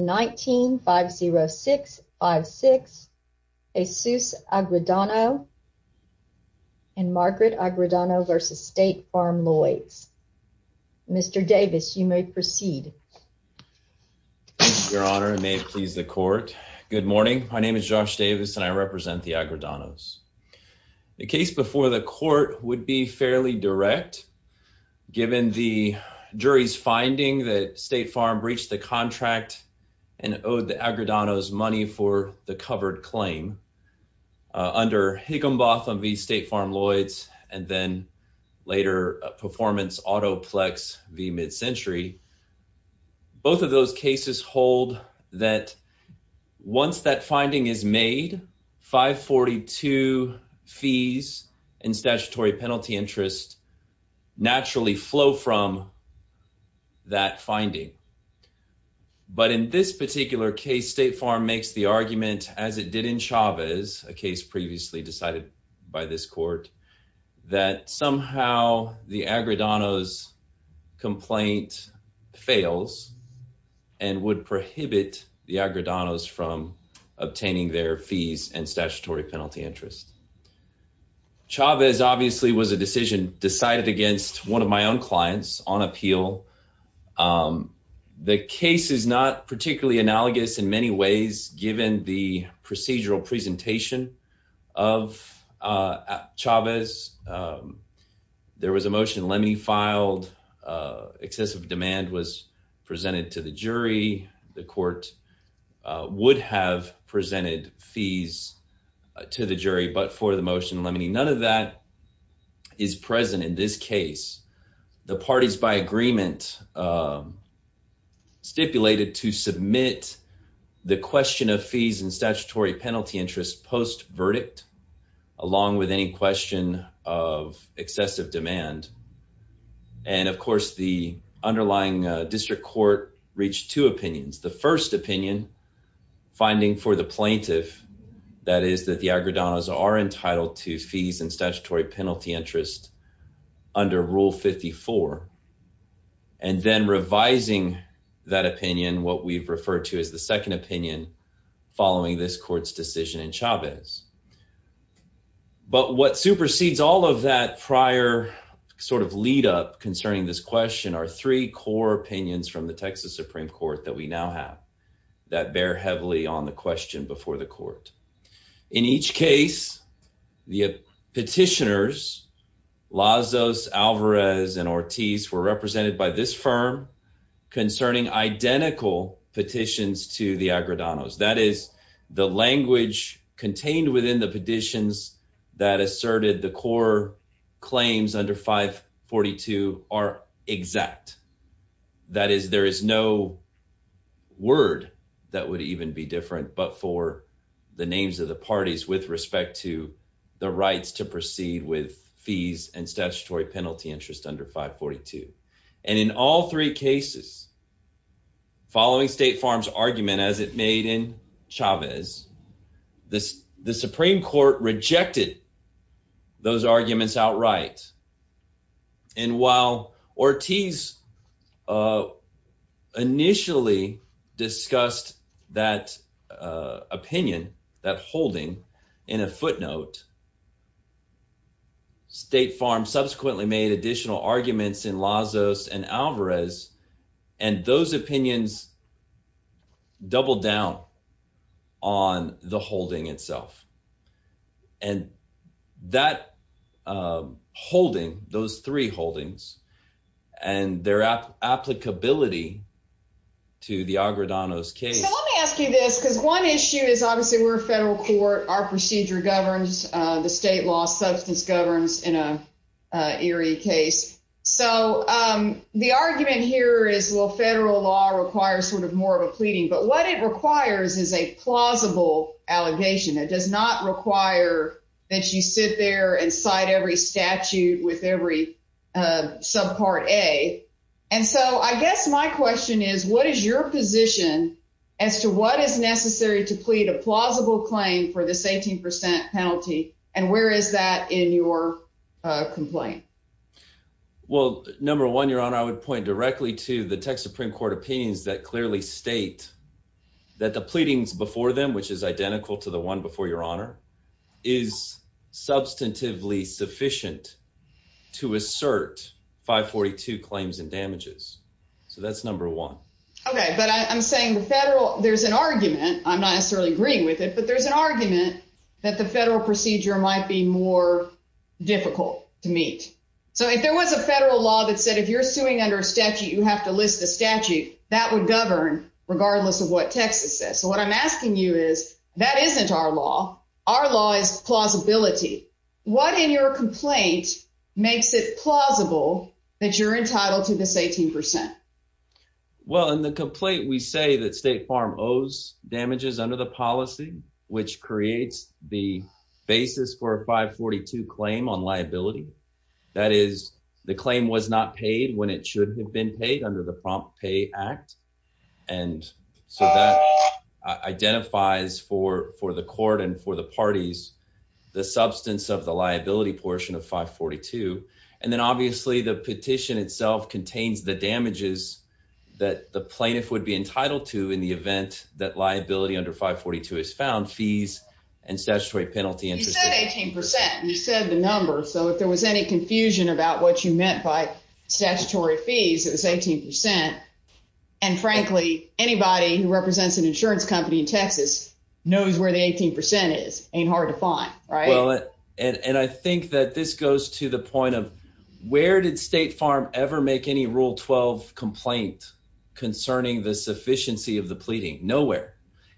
19-506-56 Jesus Agredano and Margaret Agredano v. State Farm Lloyds. Mr. Davis, you may proceed. Your Honor, and may it please the court. Good morning. My name is Josh Davis and I represent the Agredanos. The case before the court would be fairly direct given the jury's finding that State Farm breached the contract and owed the Agredanos money for the covered claim under Higginbotham v. State Farm Lloyds and then later Performance Auto Plex v. Mid-Century. Both of those cases hold that once that finding is made, 542 fees and statutory penalty interest naturally flow from that finding. But in this particular case, State Farm makes the argument as it did in Chavez, a case previously decided by this court, that somehow the Agredanos complaint fails and would prohibit the Agredanos from obtaining their fees and statutory penalty interest. Chavez obviously was a decision decided against one of my own clients on appeal. The case is not particularly analogous in many ways given the procedural presentation of Chavez. There was a motion Lemmy filed. Excessive demand was presented to the jury. The court would have presented fees to the jury but for the motion Lemmy. None of that is present in this case. The parties by agreement stipulated to submit the question of fees and statutory penalty interest post-verdict along with any question of excessive demand. And of course the underlying district court reached two opinions. The first opinion finding for the plaintiff that is that the Agredanos are entitled to fees and statutory penalty interest under Rule 54. And then revising that opinion what we've referred to as the second opinion following this court's decision in Chavez. But what supersedes all of that prior sort of lead up concerning this question are three core opinions from the Texas Supreme Court that we now have that bear heavily on the question before the court. In each case the petitioners Lozos, Alvarez, and Ortiz were represented by this firm concerning identical petitions to the Agredanos. That is the language contained within the that is there is no word that would even be different but for the names of the parties with respect to the rights to proceed with fees and statutory penalty interest under 542. And in all three cases following State Farm's argument as it made in Chavez this the Supreme Court rejected those arguments outright. And while Ortiz initially discussed that opinion that holding in a footnote State Farm subsequently made additional arguments in Lozos and Alvarez and those opinions doubled down on the holding itself. And that holding those three holdings and their applicability to the Agredanos case. So let me ask you this because one issue is obviously we're a federal court our procedure governs the state law substance governs in a case. So the argument here is well federal law requires sort of more of a pleading but what it requires is a plausible allegation. It does not require that you sit there and cite every statute with every subpart a. And so I guess my question is what is your position as to what is necessary to plead a plausible claim for this 18 percent penalty and where is that in your complaint? Well number one your honor I would point directly to the Texas Supreme Court opinions that clearly state that the pleadings before them which is identical to the one before your honor is substantively sufficient to assert 542 claims and damages. So that's number one. Okay but I'm saying the federal there's an argument I'm not necessarily agreeing with it but there's an argument that the federal procedure might be more difficult to meet. So if there was a federal law that said if you're suing under a statute you have to list the statute that would govern regardless of what Texas says. So what I'm asking you is that isn't our law. Our law is plausibility. What in your complaint makes it plausible that you're entitled to this 18 percent? Well in the complaint we say that State Farm owes damages under the policy which creates the basis for a 542 claim on liability. That is the claim was not paid when it should have been paid under the Prompt Pay Act. And so that identifies for the court and for the parties the substance of liability portion of 542. And then obviously the petition itself contains the damages that the plaintiff would be entitled to in the event that liability under 542 is found. Fees and statutory penalty. You said 18 percent. You said the number so if there was any confusion about what you meant by statutory fees it was 18 percent. And frankly anybody who represents an insurance company in Texas knows where the 18 percent is. Ain't hard to find, right? And I think that this goes to the point of where did State Farm ever make any Rule 12 complaint concerning the sufficiency of the pleading? Nowhere.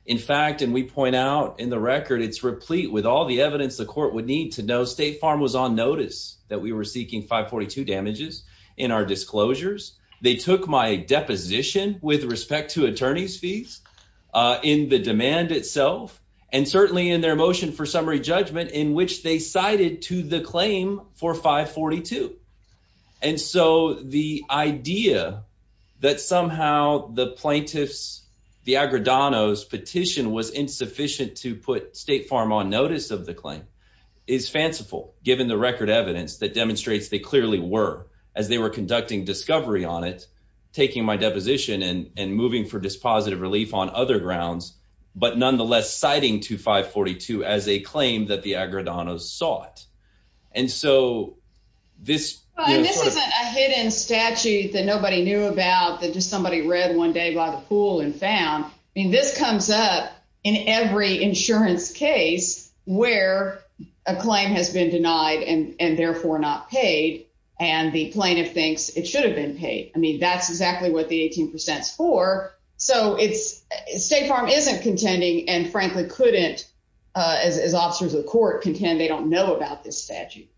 In fact and we point out in the record it's replete with all the evidence the court would need to know State Farm was on notice that we were seeking 542 damages in our disclosures. They took my deposition with respect to attorney's fees in the demand itself and certainly in their motion for summary judgment in which they cited to the claim for 542. And so the idea that somehow the plaintiff's the Agredano's petition was insufficient to put State Farm on notice of the claim is fanciful given the record evidence that demonstrates they clearly were as they were conducting discovery on it taking my deposition and moving for dispositive relief on other grounds but nonetheless citing to 542 as a claim that the Agredano's sought. And so this isn't a hidden statute that nobody knew about that just somebody read one day by the pool and found. I mean this comes up in every insurance case where a claim has been denied and and therefore not paid and the plaintiff thinks it should have been paid. I mean that's exactly what the 18 percent is for. So it's State Farm isn't contending and frankly couldn't as as officers of the court contend they don't know about this statute.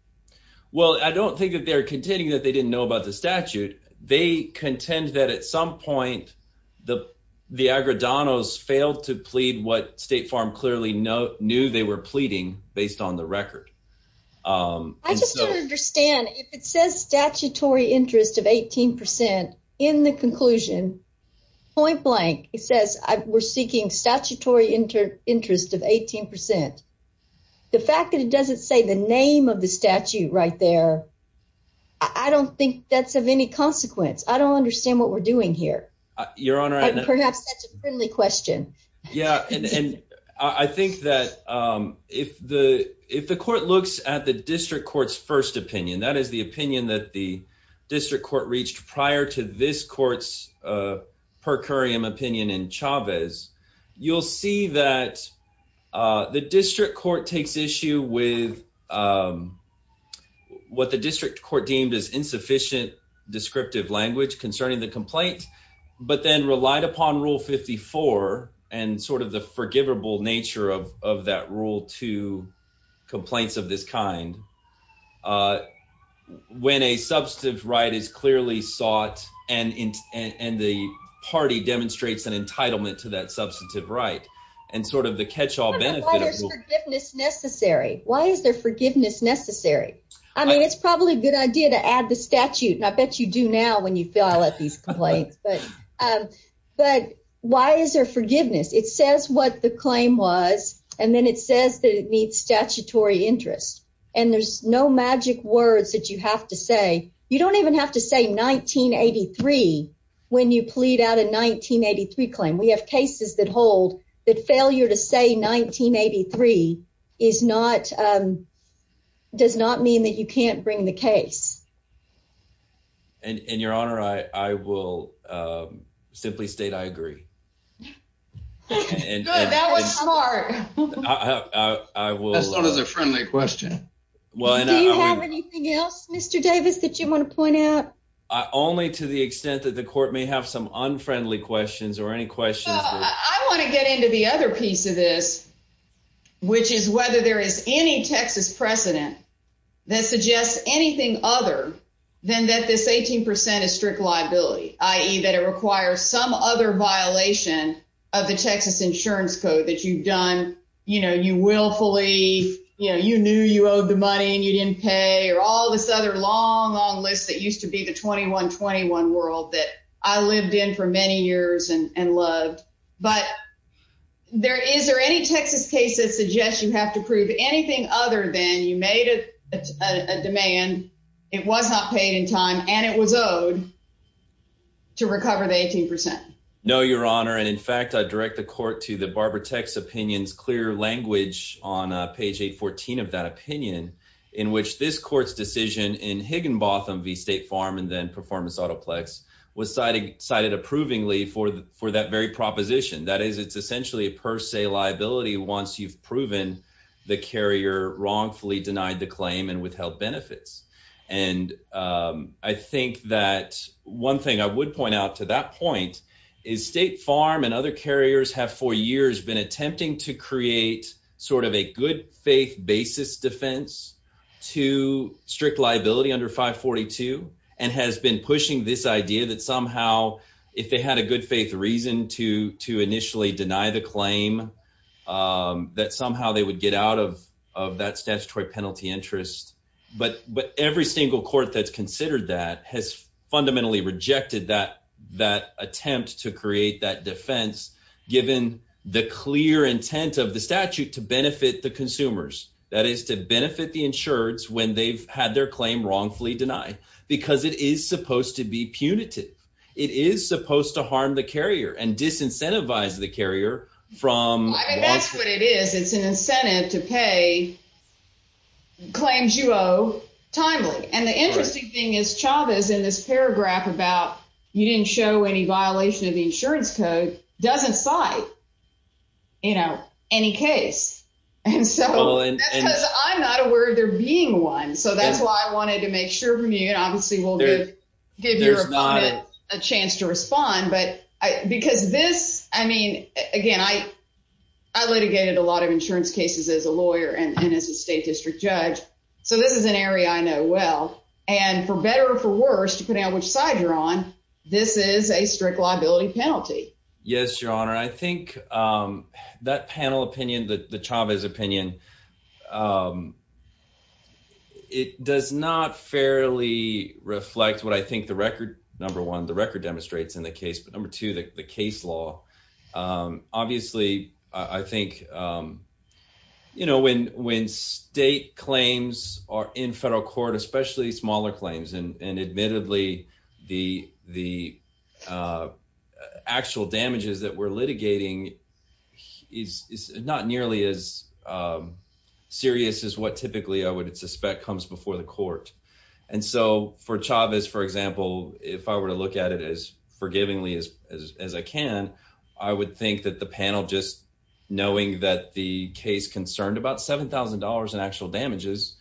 Well I don't think that they're contending that they didn't know about the statute. They contend that at some point the the Agredano's failed to plead what State Farm clearly know knew they were pleading based on the record. I just don't understand if it says statutory interest of 18 percent in the conclusion point blank it says we're seeking statutory interest of 18 percent. The fact that it doesn't say the name of the statute right there I don't think that's of any consequence. I don't understand what we're doing here. Your honor. Perhaps that's a friendly question. Yeah and I think that if the if the court looks at the district court's first opinion that is the opinion that the district court reached prior to this court's per curiam opinion in Chavez you'll see that the district court takes issue with what the district court deemed as insufficient descriptive language concerning the complaint but then relied upon rule 54 and sort of the forgivable nature of of that rule to complaint of this kind when a substantive right is clearly sought and the party demonstrates an entitlement to that substantive right and sort of the catch-all benefit. Why is there forgiveness necessary? I mean it's probably a good idea to add the statute and I bet you do now when you fill out these complaints but why is there forgiveness? It says what the claim was and it says that it needs statutory interest and there's no magic words that you have to say. You don't even have to say 1983 when you plead out a 1983 claim. We have cases that hold that failure to say 1983 does not mean that you can't bring the case. And your honor I will simply state I agree. That was smart. That's not as a friendly question. Do you have anything else Mr. Davis that you want to point out? Only to the extent that the court may have some unfriendly questions or any questions. I want to get into the other piece of this which is whether there is any Texas precedent that suggests anything other than that this 18 percent is strict liability i.e. that it requires some other violation of the Texas insurance code that you've done you know you willfully you know you knew you owed the money and you didn't pay or all this other long long list that used to be the 2121 world that I lived in for many years and and loved but there is there any Texas case that you have to prove anything other than you made a demand it was not paid in time and it was owed to recover the 18 percent? No your honor and in fact I direct the court to the Barbara Tech's opinions clear language on page 814 of that opinion in which this court's decision in Higginbotham v. State Farm and then Performance Autoplex was cited cited approvingly for for that very proposition that is it's essentially a per se liability once you've proven the carrier wrongfully denied the claim and withheld benefits and I think that one thing I would point out to that point is State Farm and other carriers have for years been attempting to create sort of a good faith basis defense to strict liability under 542 and has been pushing this idea that somehow if they had a good faith reason to to initially deny the claim that somehow they would get out of of that statutory penalty interest but but every single court that's considered that has fundamentally rejected that that attempt to create that defense given the clear intent of the statute to benefit the consumers that is to benefit the insureds when they've had their claim wrongfully denied because it is supposed to be punitive it is supposed to harm the carrier and disincentivize the carrier from that's what it is it's an incentive to pay claims you owe timely and the interesting thing is Chavez in this paragraph about you didn't show any violation of the insurance code doesn't cite you know any case and so that's because I'm not aware of there being one so that's why I wanted to make sure from you and obviously we'll give give your opponent a chance to respond but I because this I mean again I litigated a lot of insurance cases as a lawyer and as a state district judge so this is an area I know well and for better or for worse depending on which side you're on this is a strict liability penalty. Yes your honor I think that panel opinion the Chavez opinion it does not fairly reflect what I think the record number one the record demonstrates in the case but number two the case law obviously I think you know when when state claims are in federal court especially smaller claims and and admittedly the the actual damages that we're litigating is is not nearly as serious as what typically I would suspect comes before the court and so for Chavez for example if I were to look at it as forgivingly as as I can I would think that the panel just knowing that the case concerned about seven thousand dollars in actual damages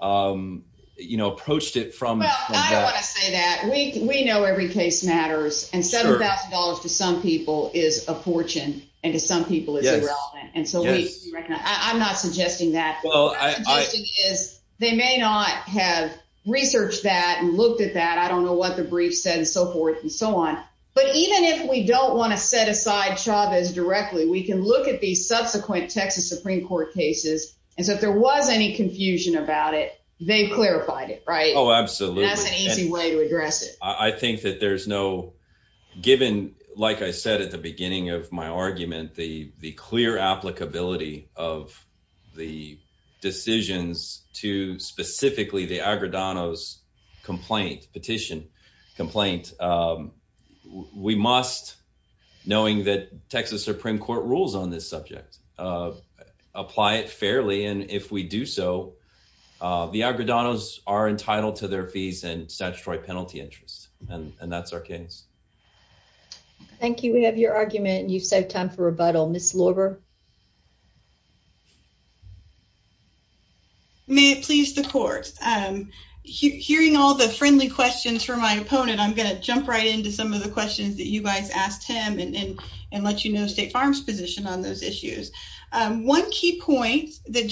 you know approached it from well I don't want to say that we we know every case matters and seven thousand dollars to some people is a fortune and to some people it's irrelevant and so we recognize I'm not suggesting that well I think is they may not have researched that and looked at that I don't know what the brief said and so forth and so on but even if we don't want to set aside Chavez directly we can look at these subsequent Texas Supreme Court cases and so if there was any confusion about it they've clarified it right oh absolutely that's an easy way to given like I said at the beginning of my argument the the clear applicability of the decisions to specifically the Agredanos complaint petition complaint we must knowing that Texas Supreme Court rules on this subject apply it fairly and if we do so the Agredanos are entitled to their fees and statutory penalty interest and that's our case. Thank you we have your argument and you've saved time for rebuttal. Ms. Lorber. May it please the court hearing all the friendly questions from my opponent I'm going to jump right into some of the questions that you guys asked him and let you know State Farm's position on those issues. One key point that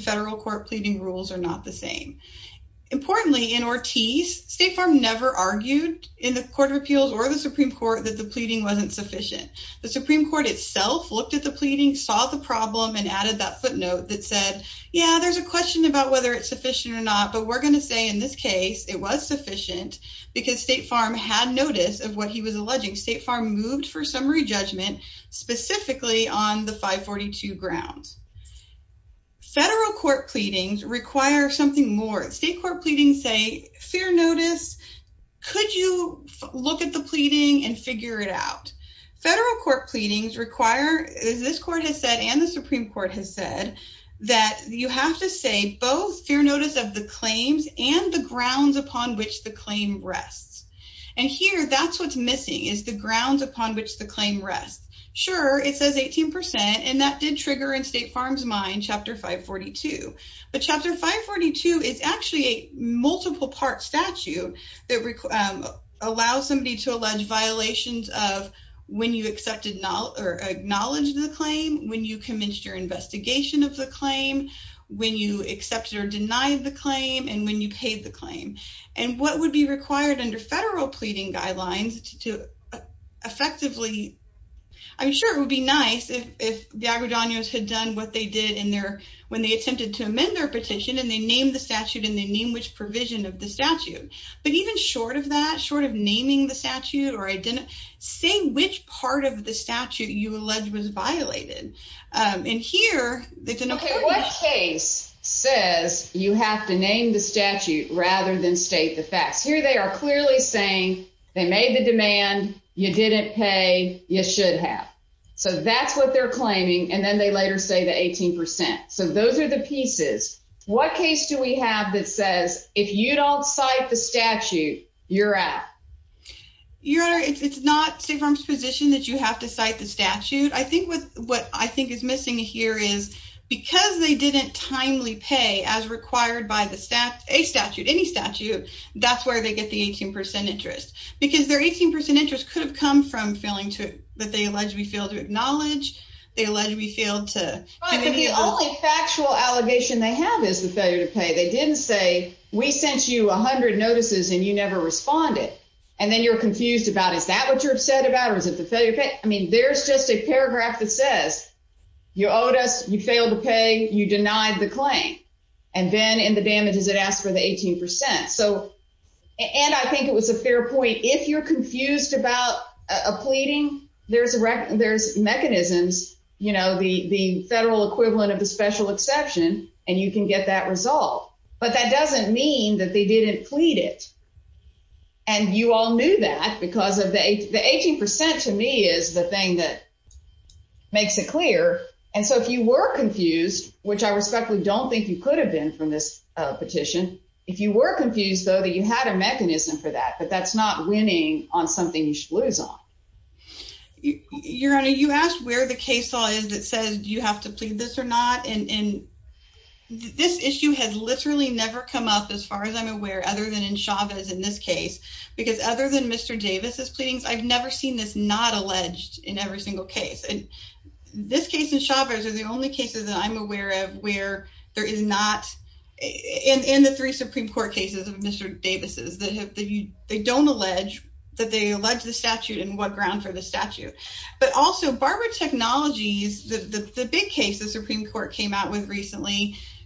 federal court pleading rules are not the same. Importantly in Ortiz State Farm never argued in the Court of Appeals or the Supreme Court that the pleading wasn't sufficient. The Supreme Court itself looked at the pleading saw the problem and added that footnote that said yeah there's a question about whether it's sufficient or not but we're going to say in this case it was sufficient because State Farm had notice of what he was alleging. State Farm moved for summary judgment specifically on the 542 grounds. Federal court pleadings require something more. State court pleadings say fair notice could you look at the pleading and figure it out. Federal court pleadings require as this court has said and the Supreme Court has said that you have to say both fair notice of the claims and the grounds upon which the claim rests. And here that's what's missing is the grounds upon which the claim rests. Sure it says 18% and that did trigger in State Farm's mind chapter 542 but chapter 542 is actually a multiple part statute that allows somebody to allege violations of when you accepted or acknowledged the claim, when you commenced your investigation of the claim, when you accepted or denied the claim, and when you paid the claim. And what would be required under federal pleading guidelines to effectively I'm sure it would be nice if if the Aguadanos had done what they did in their when they attempted to amend their petition and they named the statute and they name which provision of the statute. But even short of that short of naming the statute or I didn't say which part of the statute you allege was violated and here what case says you have to name the statute rather than state the facts. Here they are clearly saying they made the demand, you didn't pay, you should have. So that's what they're claiming and then they later say the 18%. So those are the pieces. What case do we have that says if you don't cite the statute you're out? Your honor it's not State Farm's position that you have to cite the statute. I think what what I think is missing here is because they didn't timely pay as required by the statute, any statute, that's where they get the 18% interest. Because their 18% interest could have come from failing to that they allege we failed to acknowledge, they allege we failed to. The only factual allegation they have is the failure to pay. They didn't say we sent you a hundred notices and you never responded and then you're confused about is that what you're upset about? I mean there's just a paragraph that says you owed us, you failed to pay, you denied the claim and then in the damages it asks for the 18%. So and I think it was a fair point if you're confused about a pleading there's a record there's mechanisms you know the the federal equivalent of the special exception and you can get that resolved. But that doesn't mean that they didn't plead it and you all knew that because of the the 18% to me is the thing that makes it clear and so if you were confused which I respectfully don't think you could have been from this petition, if you were confused though that you had a mechanism for that but that's not winning on something you should lose on. Your honor you asked where the case law is that says you have to in this case because other than Mr. Davis's pleadings I've never seen this not alleged in every single case and this case in Chavez are the only cases that I'm aware of where there is not in in the three Supreme Court cases of Mr. Davis's that have they don't allege that they allege the statute and what ground for the statute. But also Barbara Technologies the the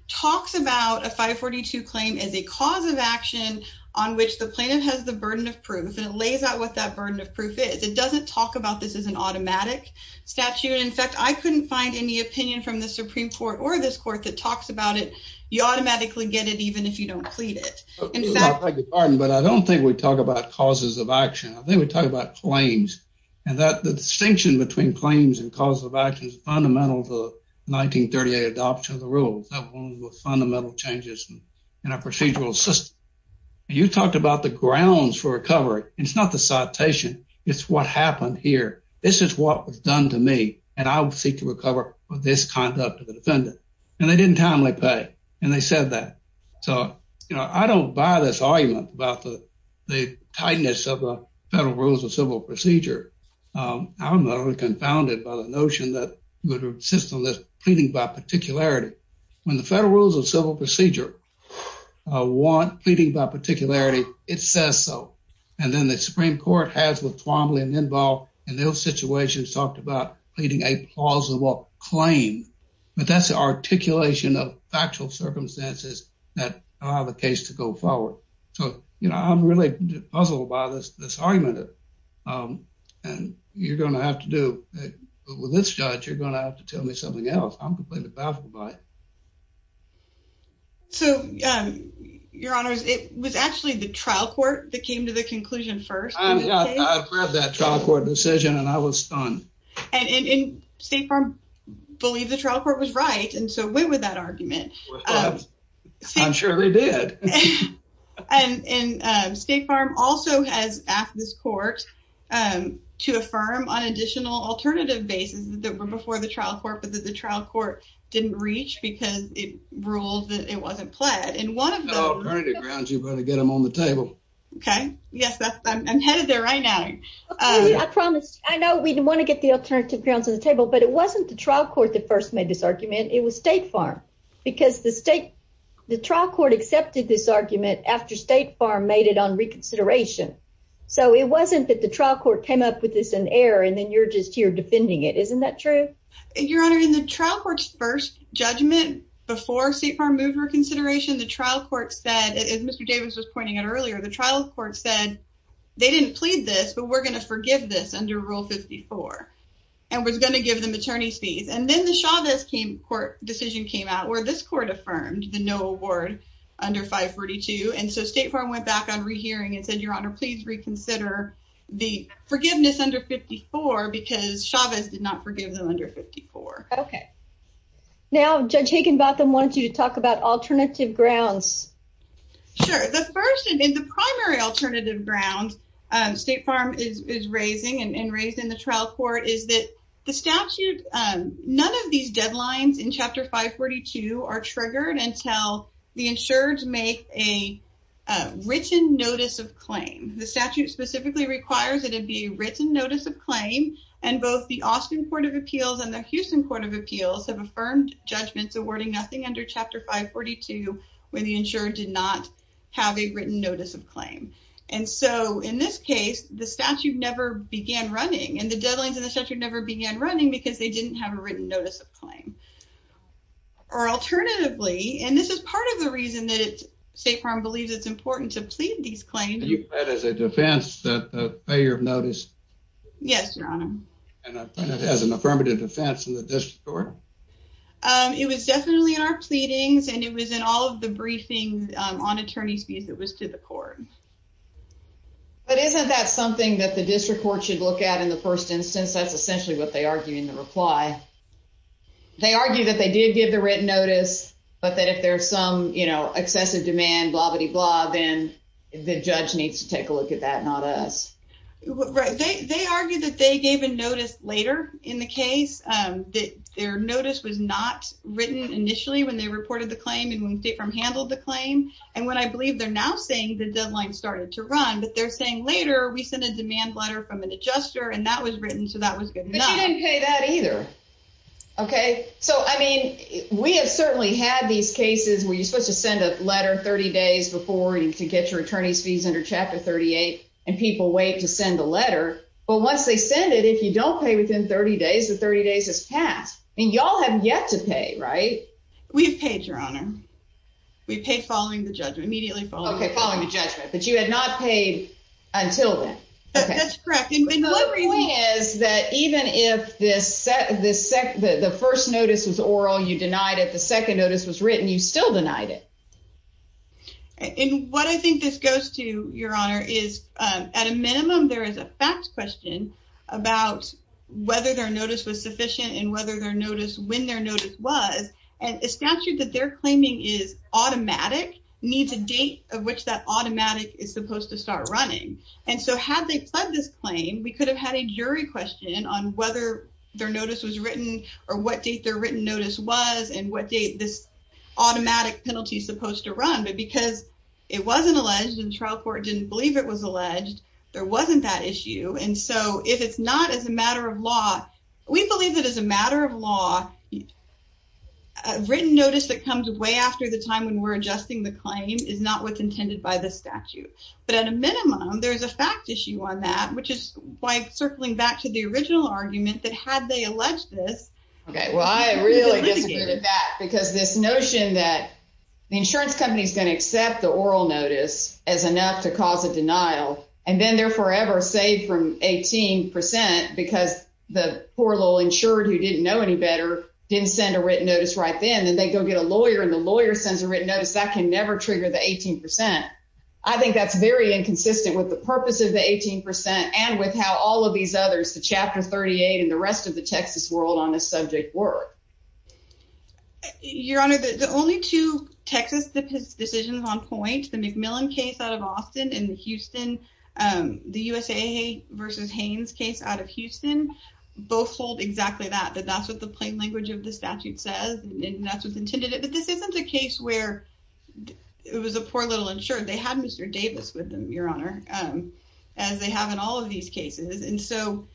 talks about a 542 claim as a cause of action on which the plaintiff has the burden of proof and it lays out what that burden of proof is. It doesn't talk about this as an automatic statute in fact I couldn't find any opinion from the Supreme Court or this court that talks about it you automatically get it even if you don't plead it. I beg your pardon but I don't think we talk about causes of action I think we talk about claims and that the distinction between claims and cause of action is fundamental to the 1938 adoption of the rules that was fundamental changes in a procedural system. You talked about the grounds for recovery it's not the citation it's what happened here this is what was done to me and I will seek to recover for this conduct of the defendant and they didn't timely pay and they said that so you know I don't buy this argument about the the tightness of the federal rules of civil procedure. I'm not only confounded by the notion that the system that's pleading by particularity when the federal rules of civil procedure want pleading by particularity it says so and then the Supreme Court has with Twombly and Inbal in those situations talked about pleading a plausible claim but that's the articulation of factual circumstances that allow the case to go forward. So you know I'm really puzzled by this this argument and you're going to have to do with this judge you're going to have to tell me something else I'm completely baffled by it. So your honors it was actually the trial court that came to the conclusion first. I've read that trial court decision and I was stunned. And State Farm believed the trial court was right and so went with that argument. I'm sure they did. And State Farm also has asked this court to affirm on additional alternative basis that were before the trial court but that the trial court didn't reach because it ruled that it wasn't pled and one of the alternative grounds you're going to get them on the table. Okay yes that's I'm headed there right now. I promise I know we didn't want to get the alternative grounds on the table but it wasn't the trial court that first made this argument it was State Farm because the state the trial court accepted this argument after State Farm made it on reconsideration so it wasn't that the trial court came up with this in error and then you're just here defending it isn't that true? Your honor in the trial court's first judgment before State Farm moved reconsideration the trial court said as Mr. Davis was pointing out earlier the trial court said they didn't and then the Chavez court decision came out where this court affirmed the no award under 542 and so State Farm went back on rehearing and said your honor please reconsider the forgiveness under 54 because Chavez did not forgive them under 54. Okay now Judge Hagenbotham wanted you to talk about alternative grounds. Sure the first and the primary alternative grounds State Farm is raising and raised in trial court is that the statute none of these deadlines in chapter 542 are triggered until the insureds make a written notice of claim the statute specifically requires that it be written notice of claim and both the Austin Court of Appeals and the Houston Court of Appeals have affirmed judgments awarding nothing under chapter 542 when the insured did not have a written notice of claim and so in this case the statute never began running and the deadlines in the statute never began running because they didn't have a written notice of claim or alternatively and this is part of the reason that it's State Farm believes it's important to plead these claims. You read as a defense that the failure of notice. Yes your honor. And it has an affirmative defense in the district court. It was definitely in our pleadings and it was in all of the briefings on attorney's fees that was to the court. But isn't that something that the district court should look at in the first instance that's essentially what they argue in the reply. They argue that they did give the written notice but that if there's some you know excessive demand blah blah then the judge needs to take a look at that not us. Right they argue that they gave a notice later in the case that their notice was not written initially when they reported the claim and when State Farm handled the claim and what I believe they're now saying the deadline started to run but they're saying later we sent a demand letter from an adjuster and that was written so that was good enough. But you didn't pay that either. Okay so I mean we have certainly had these cases where you're supposed to send a letter 30 days before you can get your attorney's fees under chapter 38 and people wait to send the letter but once they send it if you don't pay within 30 days the 30 days has passed. Y'all have yet to pay right? We've paid your honor. We paid following the judgment immediately following the judgment. But you had not paid until then. That's correct and the point is that even if the first notice was oral you denied it the second notice was written you still denied it. And what I think this goes to your honor is at a minimum there is a fact question about whether their notice was sufficient and whether their notice when their notice was and a statute that they're claiming is automatic needs a date of which that automatic is supposed to start running and so had they pledged this claim we could have had a jury question on whether their notice was written or what date their written notice was and what date this automatic penalty is supposed to run but because it wasn't alleged and trial court didn't believe it was we believe that as a matter of law a written notice that comes way after the time when we're adjusting the claim is not what's intended by the statute but at a minimum there's a fact issue on that which is by circling back to the original argument that had they alleged this. Okay well I really disagree with that because this notion that the insurance company is going to accept the oral notice as enough to cause a denial and then they're forever saved from 18 percent because the poor little insured who didn't know any better didn't send a written notice right then and they go get a lawyer and the lawyer sends a written notice that can never trigger the 18 percent. I think that's very inconsistent with the purpose of the 18 percent and with how all of these others the chapter 38 and the rest of the Texas world on this subject work. Your honor the only two Texas decisions on point the McMillan case out of Austin and Houston the USA versus Haynes case out of Houston both hold exactly that that's what the plain language of the statute says and that's what's intended but this isn't a case where it was a poor little insured they had Mr. Davis with them your honor as they have in all of these cases and so.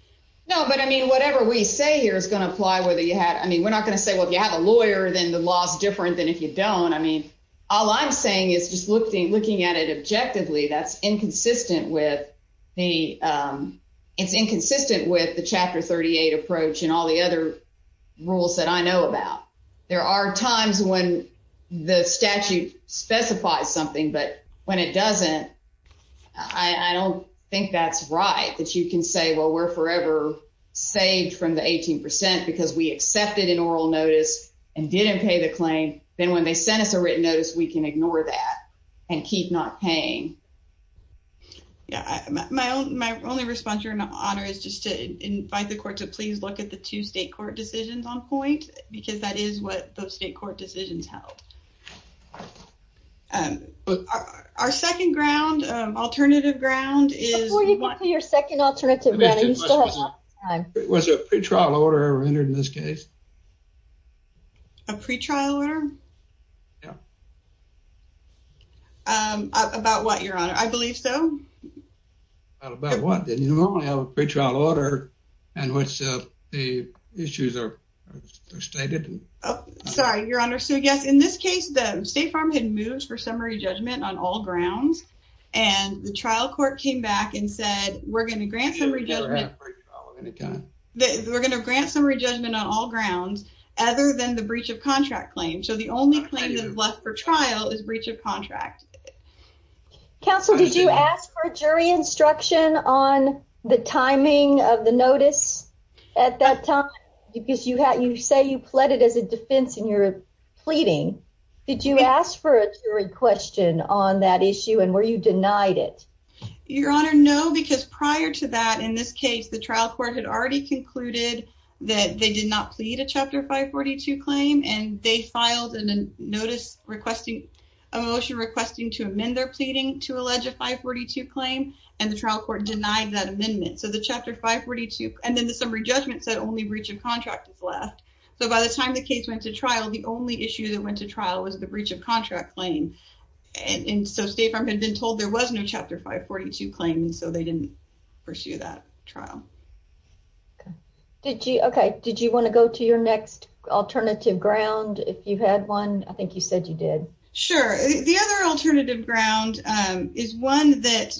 No but I mean whatever we say here is going to apply whether you had I mean we're not going to say well if you have a lawyer then the law is different than if you don't I mean all I'm saying is just looking looking at it objectively that's inconsistent with the it's inconsistent with the chapter 38 approach and all the other rules that I know about there are times when the statute specifies something but when it doesn't I don't think that's right that you can say well we're forever saved from the 18 percent because we accepted an oral notice and didn't pay the claim then when they sent us a written notice we can ignore that and keep not paying. Yeah my own my only response your honor is just to invite the court to please look at the two state court decisions on point because that is what those state court decisions held. Our second ground alternative ground is. Before you complete your second alternative Was a pre-trial order ever entered in this case? A pre-trial order? Yeah. About what your honor? I believe so. About what? Didn't you normally have a pre-trial order in which the issues are stated? Sorry your honor so yes in this case the state farm had moved for summary judgment on all grounds and the trial court came back and said we're going to grant We're going to grant summary judgment on all grounds other than the breach of contract claim so the only claim that's left for trial is breach of contract. Counsel did you ask for a jury instruction on the timing of the notice at that time because you had you say you pled it as a defense in your pleading did you ask for a jury question on that issue and were you denied it? Your honor no because prior to that in this case the trial court had already concluded that they did not plead a chapter 542 claim and they filed a notice requesting a motion requesting to amend their pleading to allege a 542 claim and the trial court denied that amendment so the chapter 542 and then the summary judgment said only breach of contract is left so by the time the case went to trial the only issue that went to trial was the breach of contract claim and so state farm had been told there was no chapter 542 claim so they didn't pursue that trial. Did you okay did you want to go to your next alternative ground if you had one I think you said you did. Sure the other alternative ground is one that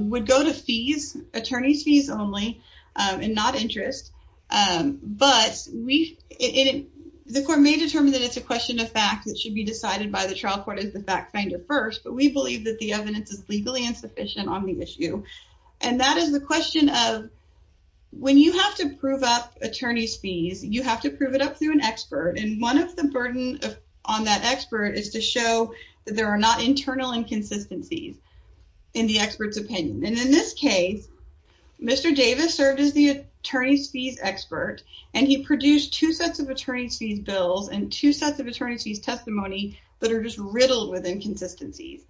would go to fees attorneys fees only and not interest but we in the court may determine that it's a question of fact that should be decided by the trial court as the fact finder first but we believe that the evidence is legally insufficient on the issue and that is the question of when you have to prove up attorney's fees you have to prove it up through an expert and one of the burden on that expert is to show that there are not internal inconsistencies in the expert's opinion and in this case Mr. Davis served as the attorney's fees expert and he produced two sets of attorney's fees bills and two sets of attorney's fees testimony that are just riddled with inconsistencies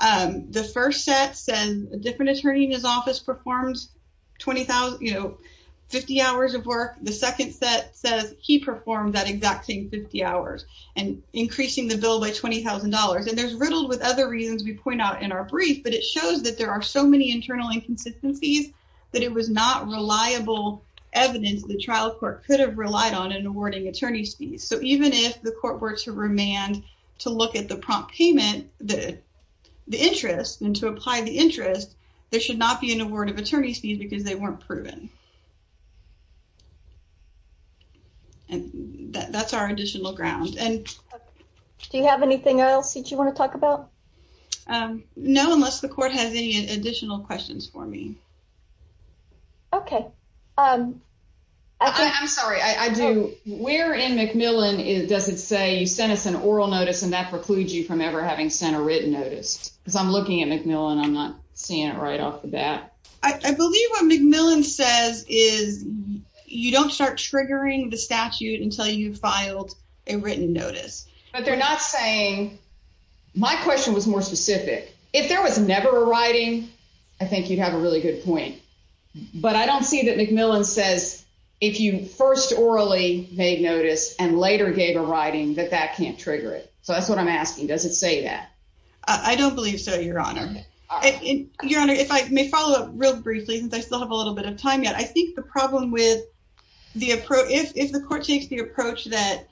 the first set says a different attorney in his office performs 20,000 you know 50 hours of work the second set says he performed that exact same 50 hours and increasing the bill by $20,000 and there's riddled with other reasons we point out in our brief but it shows that there are so many internal inconsistencies that it was not reliable evidence the trial court could have relied on in awarding attorney's fees so even if the court were to remand to look at the prompt payment the the interest and to apply the interest there should not be an award of attorney's fees because they weren't proven and that's our additional ground and do you have anything else that you want to talk about um no unless the court has any additional questions for me okay um i'm sorry i do where in mcmillan is does it say you sent us an oral notice and that precludes you from ever having sent a written notice because i'm looking at mcmillan i'm not seeing it right off the bat i believe what mcmillan says is you don't start triggering the statute until you've filed a written notice but they're not saying my question was more specific if there was never a point but i don't see that mcmillan says if you first orally made notice and later gave a writing that that can't trigger it so that's what i'm asking does it say that i don't believe so your honor your honor if i may follow up real briefly since i still have a little bit of time yet i think the problem with the approach if the court takes the approach that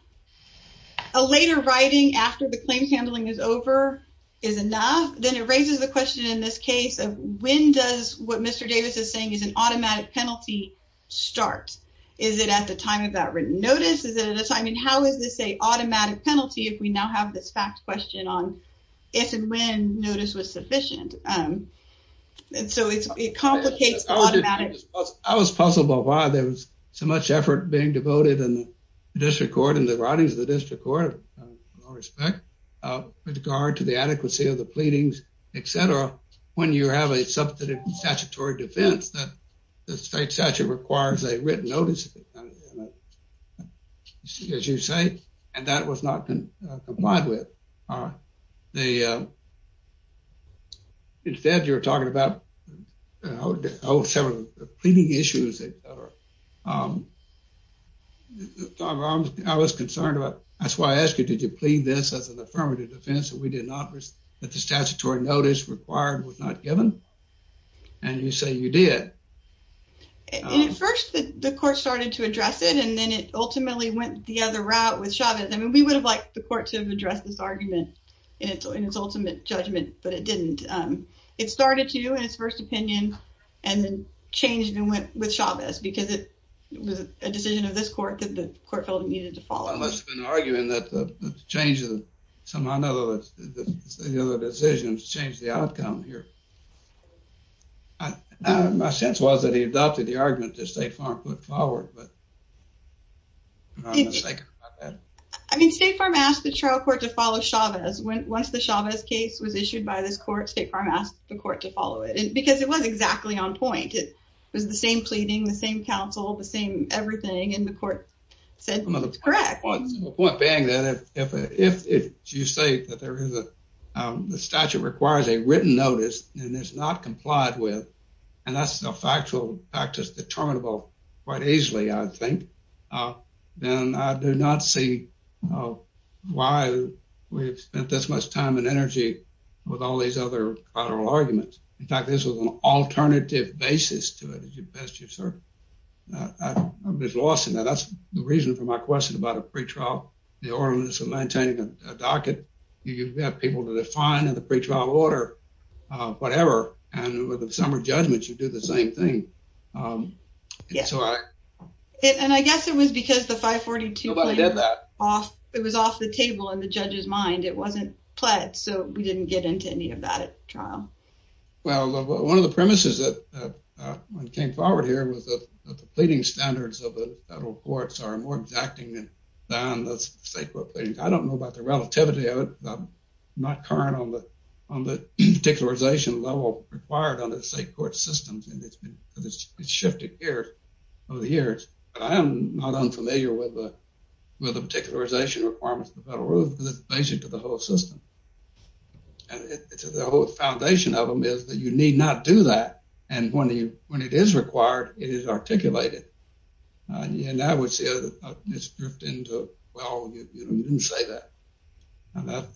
a later writing after the claims handling is over is enough then it raises the question in this case of when does what mr davis is saying is an automatic penalty start is it at the time of that written notice is it at a time and how is this a automatic penalty if we now have this fact question on if and when notice was sufficient um and so it's it complicates the automatic i was puzzled by why there was so much effort being devoted in the district court and the writings of the district court in all respect uh with regard to the adequacy of the pleadings etc when you have a substantive statutory defense that the state statute requires a written notice as you say and that was not complied with uh they uh instead you're talking about you know several pleading issues that are um i was concerned about that's why i asked you did you plead this as an affirmative defense that the statutory notice required was not given and you say you did and at first the court started to address it and then it ultimately went the other route with chavez i mean we would have liked the court to have addressed this argument in its ultimate judgment but it didn't um it started to in its first opinion and then changed and went with chavez because it was a decision of this court that the court felt it needed to follow unless arguing that the change of some other the other decisions changed the outcome here my sense was that he adopted the argument that state farm put forward but i mean state farm asked the trial court to follow chavez when once the chavez case was issued by this court state farm asked the court to follow it and because it was exactly on point it was the same pleading the same counsel the same everything and the court said it's correct point being that if if if you say that there is a um the statute requires a written notice and it's not complied with and that's a factual practice determinable quite easily i think uh then i do not see uh why we've spent this much time and energy with all these other collateral arguments in fact this was an alternative basis to it as you best you've uh i'm just lost and that's the reason for my question about a pre-trial the ordinance of maintaining a docket you have people to define in the pre-trial order uh whatever and with the summer judgments you do the same thing um yeah so i and i guess it was because the 542 did that off it was off the table in the judge's mind it wasn't pledged so we didn't get into any of that at trial well one of the premises that uh came forward here was that the pleading standards of the federal courts are more exacting than down the sacred things i don't know about the relativity of it i'm not current on the on the particularization level required on the state court systems and it's been because it's shifted here over the years but i am not unfamiliar with the with the particularization requirements of the federal rule because it's basic to the whole system and it's the whole of them is that you need not do that and when you when it is required it is articulated uh yeah now i would say it's drift into well you didn't say that and that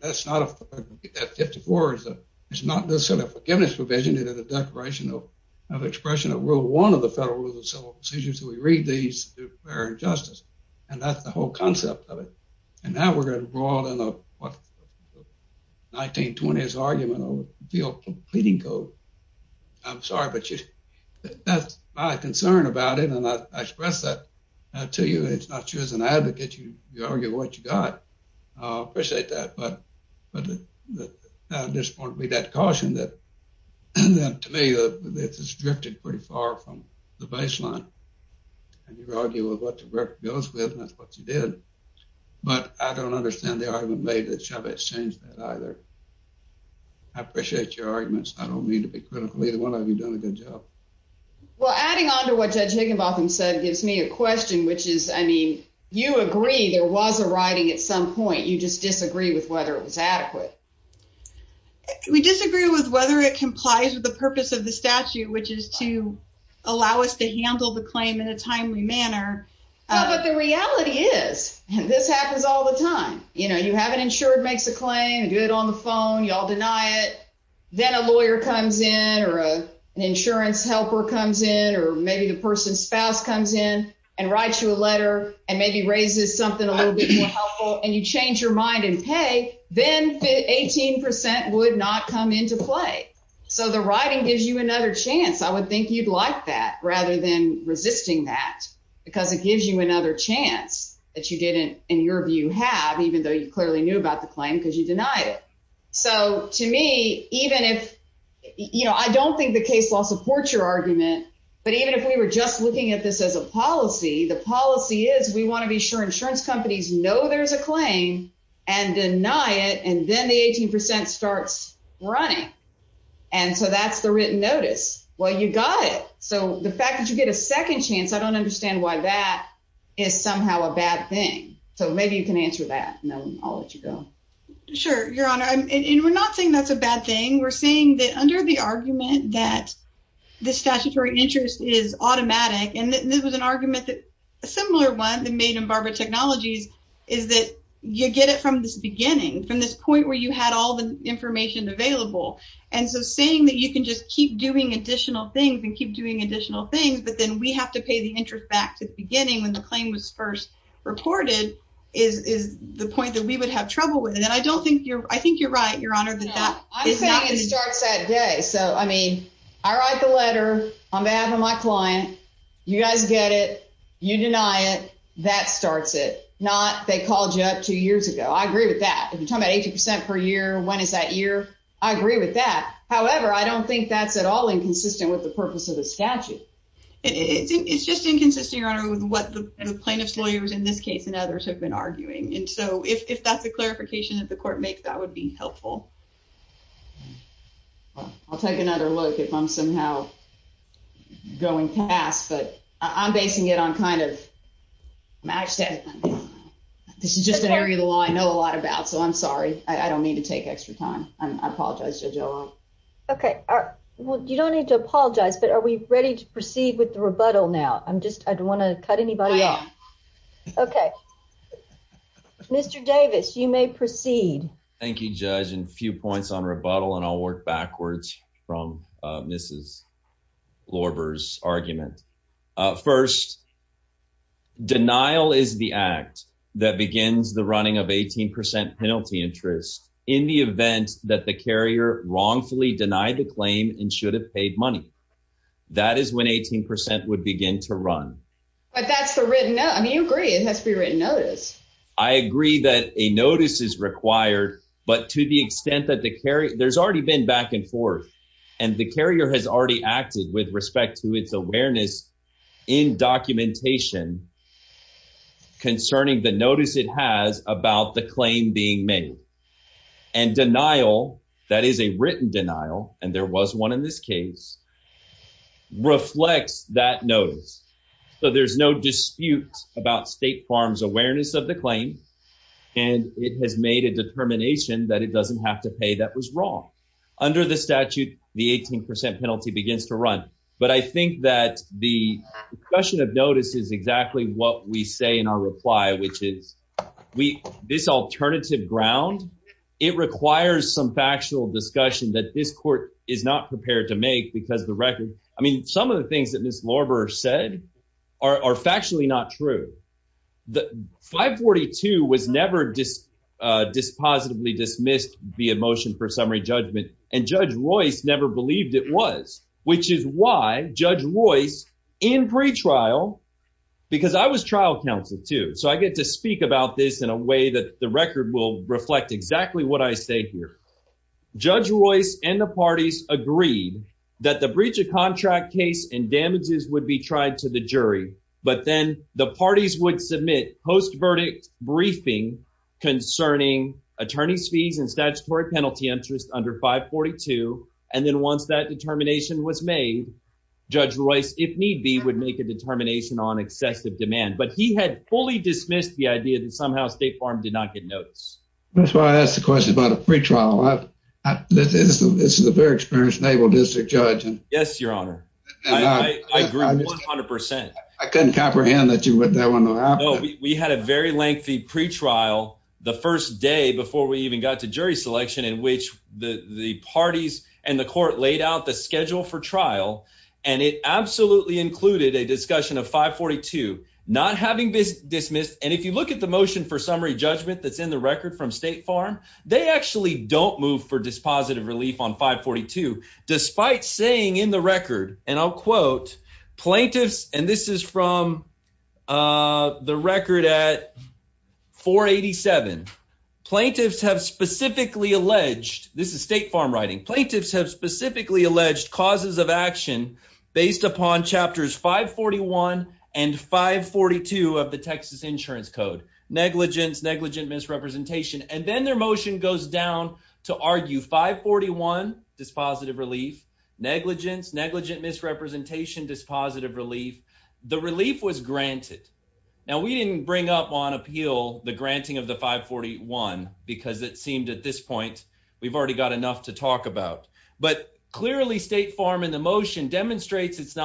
that's not a 54 is a it's not necessarily a forgiveness provision it is a declaration of of expression of rule one of the federal rules of civil procedures so we read these fair and justice and that's the whole concept of it and now we're going to broaden up what 1920s argument over field pleading code i'm sorry but you that's my concern about it and i express that to you it's not you as an advocate you argue what you got i appreciate that but but this point we got caution that and then to me that this has drifted pretty far from the baseline and you argue with what the work goes with and that's what you did but i don't understand the argument made that chavez changed that either i appreciate your arguments i don't mean to be critical either one of you doing a good job well adding on to what judge higginbotham said gives me a question which is i mean you agree there was a writing at some point you just disagree with whether it was adequate we disagree with whether it complies with the purpose of the statute which is to allow us to handle the claim in a timely manner no but the reality is and this happens all the time you know you have an insured makes a claim do it on the phone y'all deny it then a lawyer comes in or an insurance helper comes in or maybe the person's spouse comes in and writes you a letter and maybe raises something a little bit more helpful and you change your mind and pay then 18 would not come into play so the writing gives you another chance i would think you'd like rather than resisting that because it gives you another chance that you didn't in your view have even though you clearly knew about the claim because you denied it so to me even if you know i don't think the case law supports your argument but even if we were just looking at this as a policy the policy is we want to be sure insurance companies know there's a claim and deny it and then the 18 percent starts running and so that's the written notice well you got it so the fact that you get a second chance i don't understand why that is somehow a bad thing so maybe you can answer that no i'll let you go sure your honor and we're not saying that's a bad thing we're saying that under the argument that the statutory interest is automatic and this was an argument that a you had all the information available and so saying that you can just keep doing additional things and keep doing additional things but then we have to pay the interest back to the beginning when the claim was first reported is is the point that we would have trouble with it and i don't think you're i think you're right your honor that that is not it starts that day so i mean i write the letter on behalf of my client you guys get it you deny it that starts it not they called you up two years ago i agree with that if you're talking about 80 percent per year when is that year i agree with that however i don't think that's at all inconsistent with the purpose of the statute it's just inconsistent your honor with what the plaintiff's lawyers in this case and others have been arguing and so if that's a clarification that the court makes that would be helpful i'll take another look if i'm somehow going past but i'm basing it on kind of i said this is just an area of the law i know a lot about so i'm sorry i don't need to take extra time i apologize judge okay well you don't need to apologize but are we ready to proceed with the rebuttal now i'm just i don't want to cut anybody off okay mr davis you may proceed thank you judge and few points on rebuttal and i'll work backwards from uh mrs lauber's argument first denial is the act that begins the running of 18 penalty interest in the event that the carrier wrongfully denied the claim and should have paid money that is when 18 percent would begin to run but that's the written note i mean you agree it has to be written notice i agree that a notice is required but to the extent that the carry there's already been back and forth and the carrier has already acted with respect to its awareness in documentation concerning the notice it has about the claim being made and denial that is a written denial and there was one in this case reflects that notice so there's no dispute about state farms awareness of the claim and it has made a determination that it doesn't have to pay that was wrong under the statute the 18 penalty begins to run but i think that the question of notice is exactly what we say in our reply which is we this alternative ground it requires some factual discussion that this court is not prepared to make because the record i mean some of the things that miss lauber said are factually not true the 542 was never just uh dismissed via motion for summary judgment and judge royce never believed it was which is why judge royce in pre-trial because i was trial counsel too so i get to speak about this in a way that the record will reflect exactly what i say here judge royce and the parties agreed that the breach of contract case and damages would be tried to the jury but then the parties would submit post-verdict briefing concerning attorney's fees and statutory penalty interest under 542 and then once that determination was made judge royce if need be would make a determination on excessive demand but he had fully dismissed the idea that somehow state farm did not get notice that's why i asked the question about a free trial i've this is this is a very experienced district judge yes your honor i agree 100 i couldn't comprehend that you went that one we had a very lengthy pre-trial the first day before we even got to jury selection in which the the parties and the court laid out the schedule for trial and it absolutely included a discussion of 542 not having this dismissed and if you look at the motion for summary judgment that's in the record from state farm they actually don't move for dispositive relief on 542 despite saying in the record and i'll quote plaintiffs and this is from uh the record at 487 plaintiffs have specifically alleged this is state farm writing plaintiffs have specifically alleged causes of action based upon chapters 541 and 542 of the texas insurance code negligence negligent misrepresentation and then their motion goes down to argue 541 dispositive relief negligence negligent misrepresentation dispositive relief the relief was granted now we didn't bring up on appeal the granting of the 541 because it seemed at this point we've already got enough to talk about but clearly state farm in the motion demonstrates its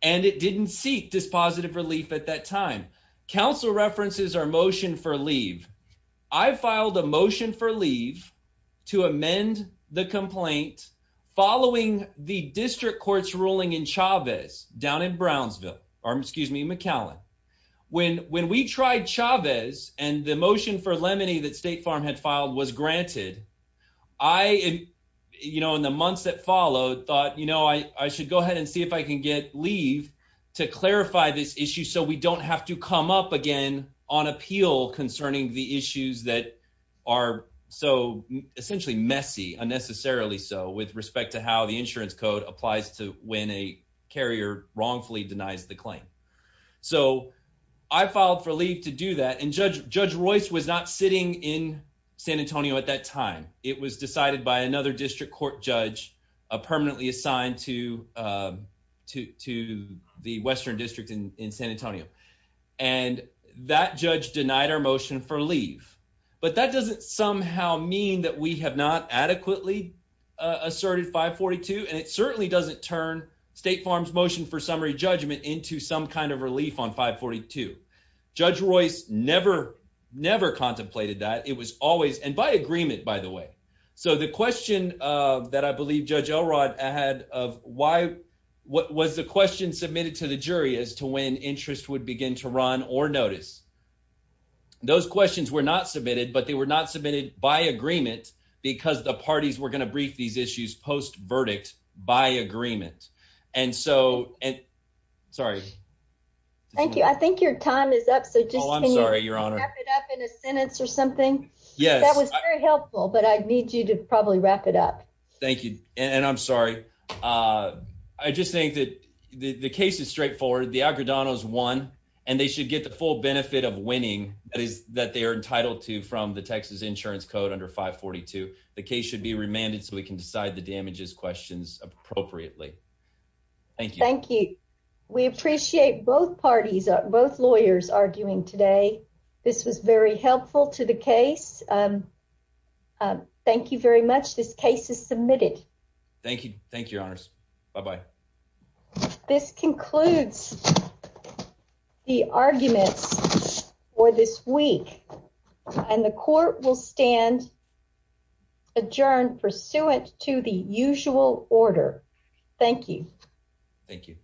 and it didn't seek dispositive relief at that time council references our motion for leave i filed a motion for leave to amend the complaint following the district court's ruling in chavez down in brownsville or excuse me mccallan when when we tried chavez and the motion for lemony that state farm had filed was granted i you know in the months that followed thought you know i i should go ahead and see if i can get leave to clarify this issue so we don't have to come up again on appeal concerning the issues that are so essentially messy unnecessarily so with respect to how the insurance code applies to when a carrier wrongfully denies the claim so i filed for leave to do that and judge judge royce was not sitting in san antonio at that time it was decided by another district court judge a permanently assigned to uh to to the western district in in san antonio and that judge denied our motion for leave but that doesn't somehow mean that we have not adequately asserted 542 and it certainly doesn't turn state farms motion for summary judgment into some kind of relief on 542 judge royce never never contemplated that it was always and by agreement by the way so the question uh that i believe judge elrod had of why what was the question submitted to the jury as to when interest would begin to run or notice those questions were not submitted but they were not submitted by agreement because the parties were going to brief these issues post verdict by agreement and so and sorry thank you i think your time is up so just oh i'm sorry your honor wrap it up in a sentence or something yes that was very helpful but i need you to probably wrap it up thank you and i'm sorry uh i just think that the the case is straightforward the agredanos won and they should get the full benefit of winning that is that they are entitled to from the texas insurance code under 542 the case should be remanded so we can decide the damages questions appropriately thank you thank you we appreciate both parties both lawyers arguing today this was very helpful to the case um thank you very much this case is submitted thank you thank you your honors bye bye this concludes the arguments for this week and the court will stand adjourned pursuant to the usual order thank you thank you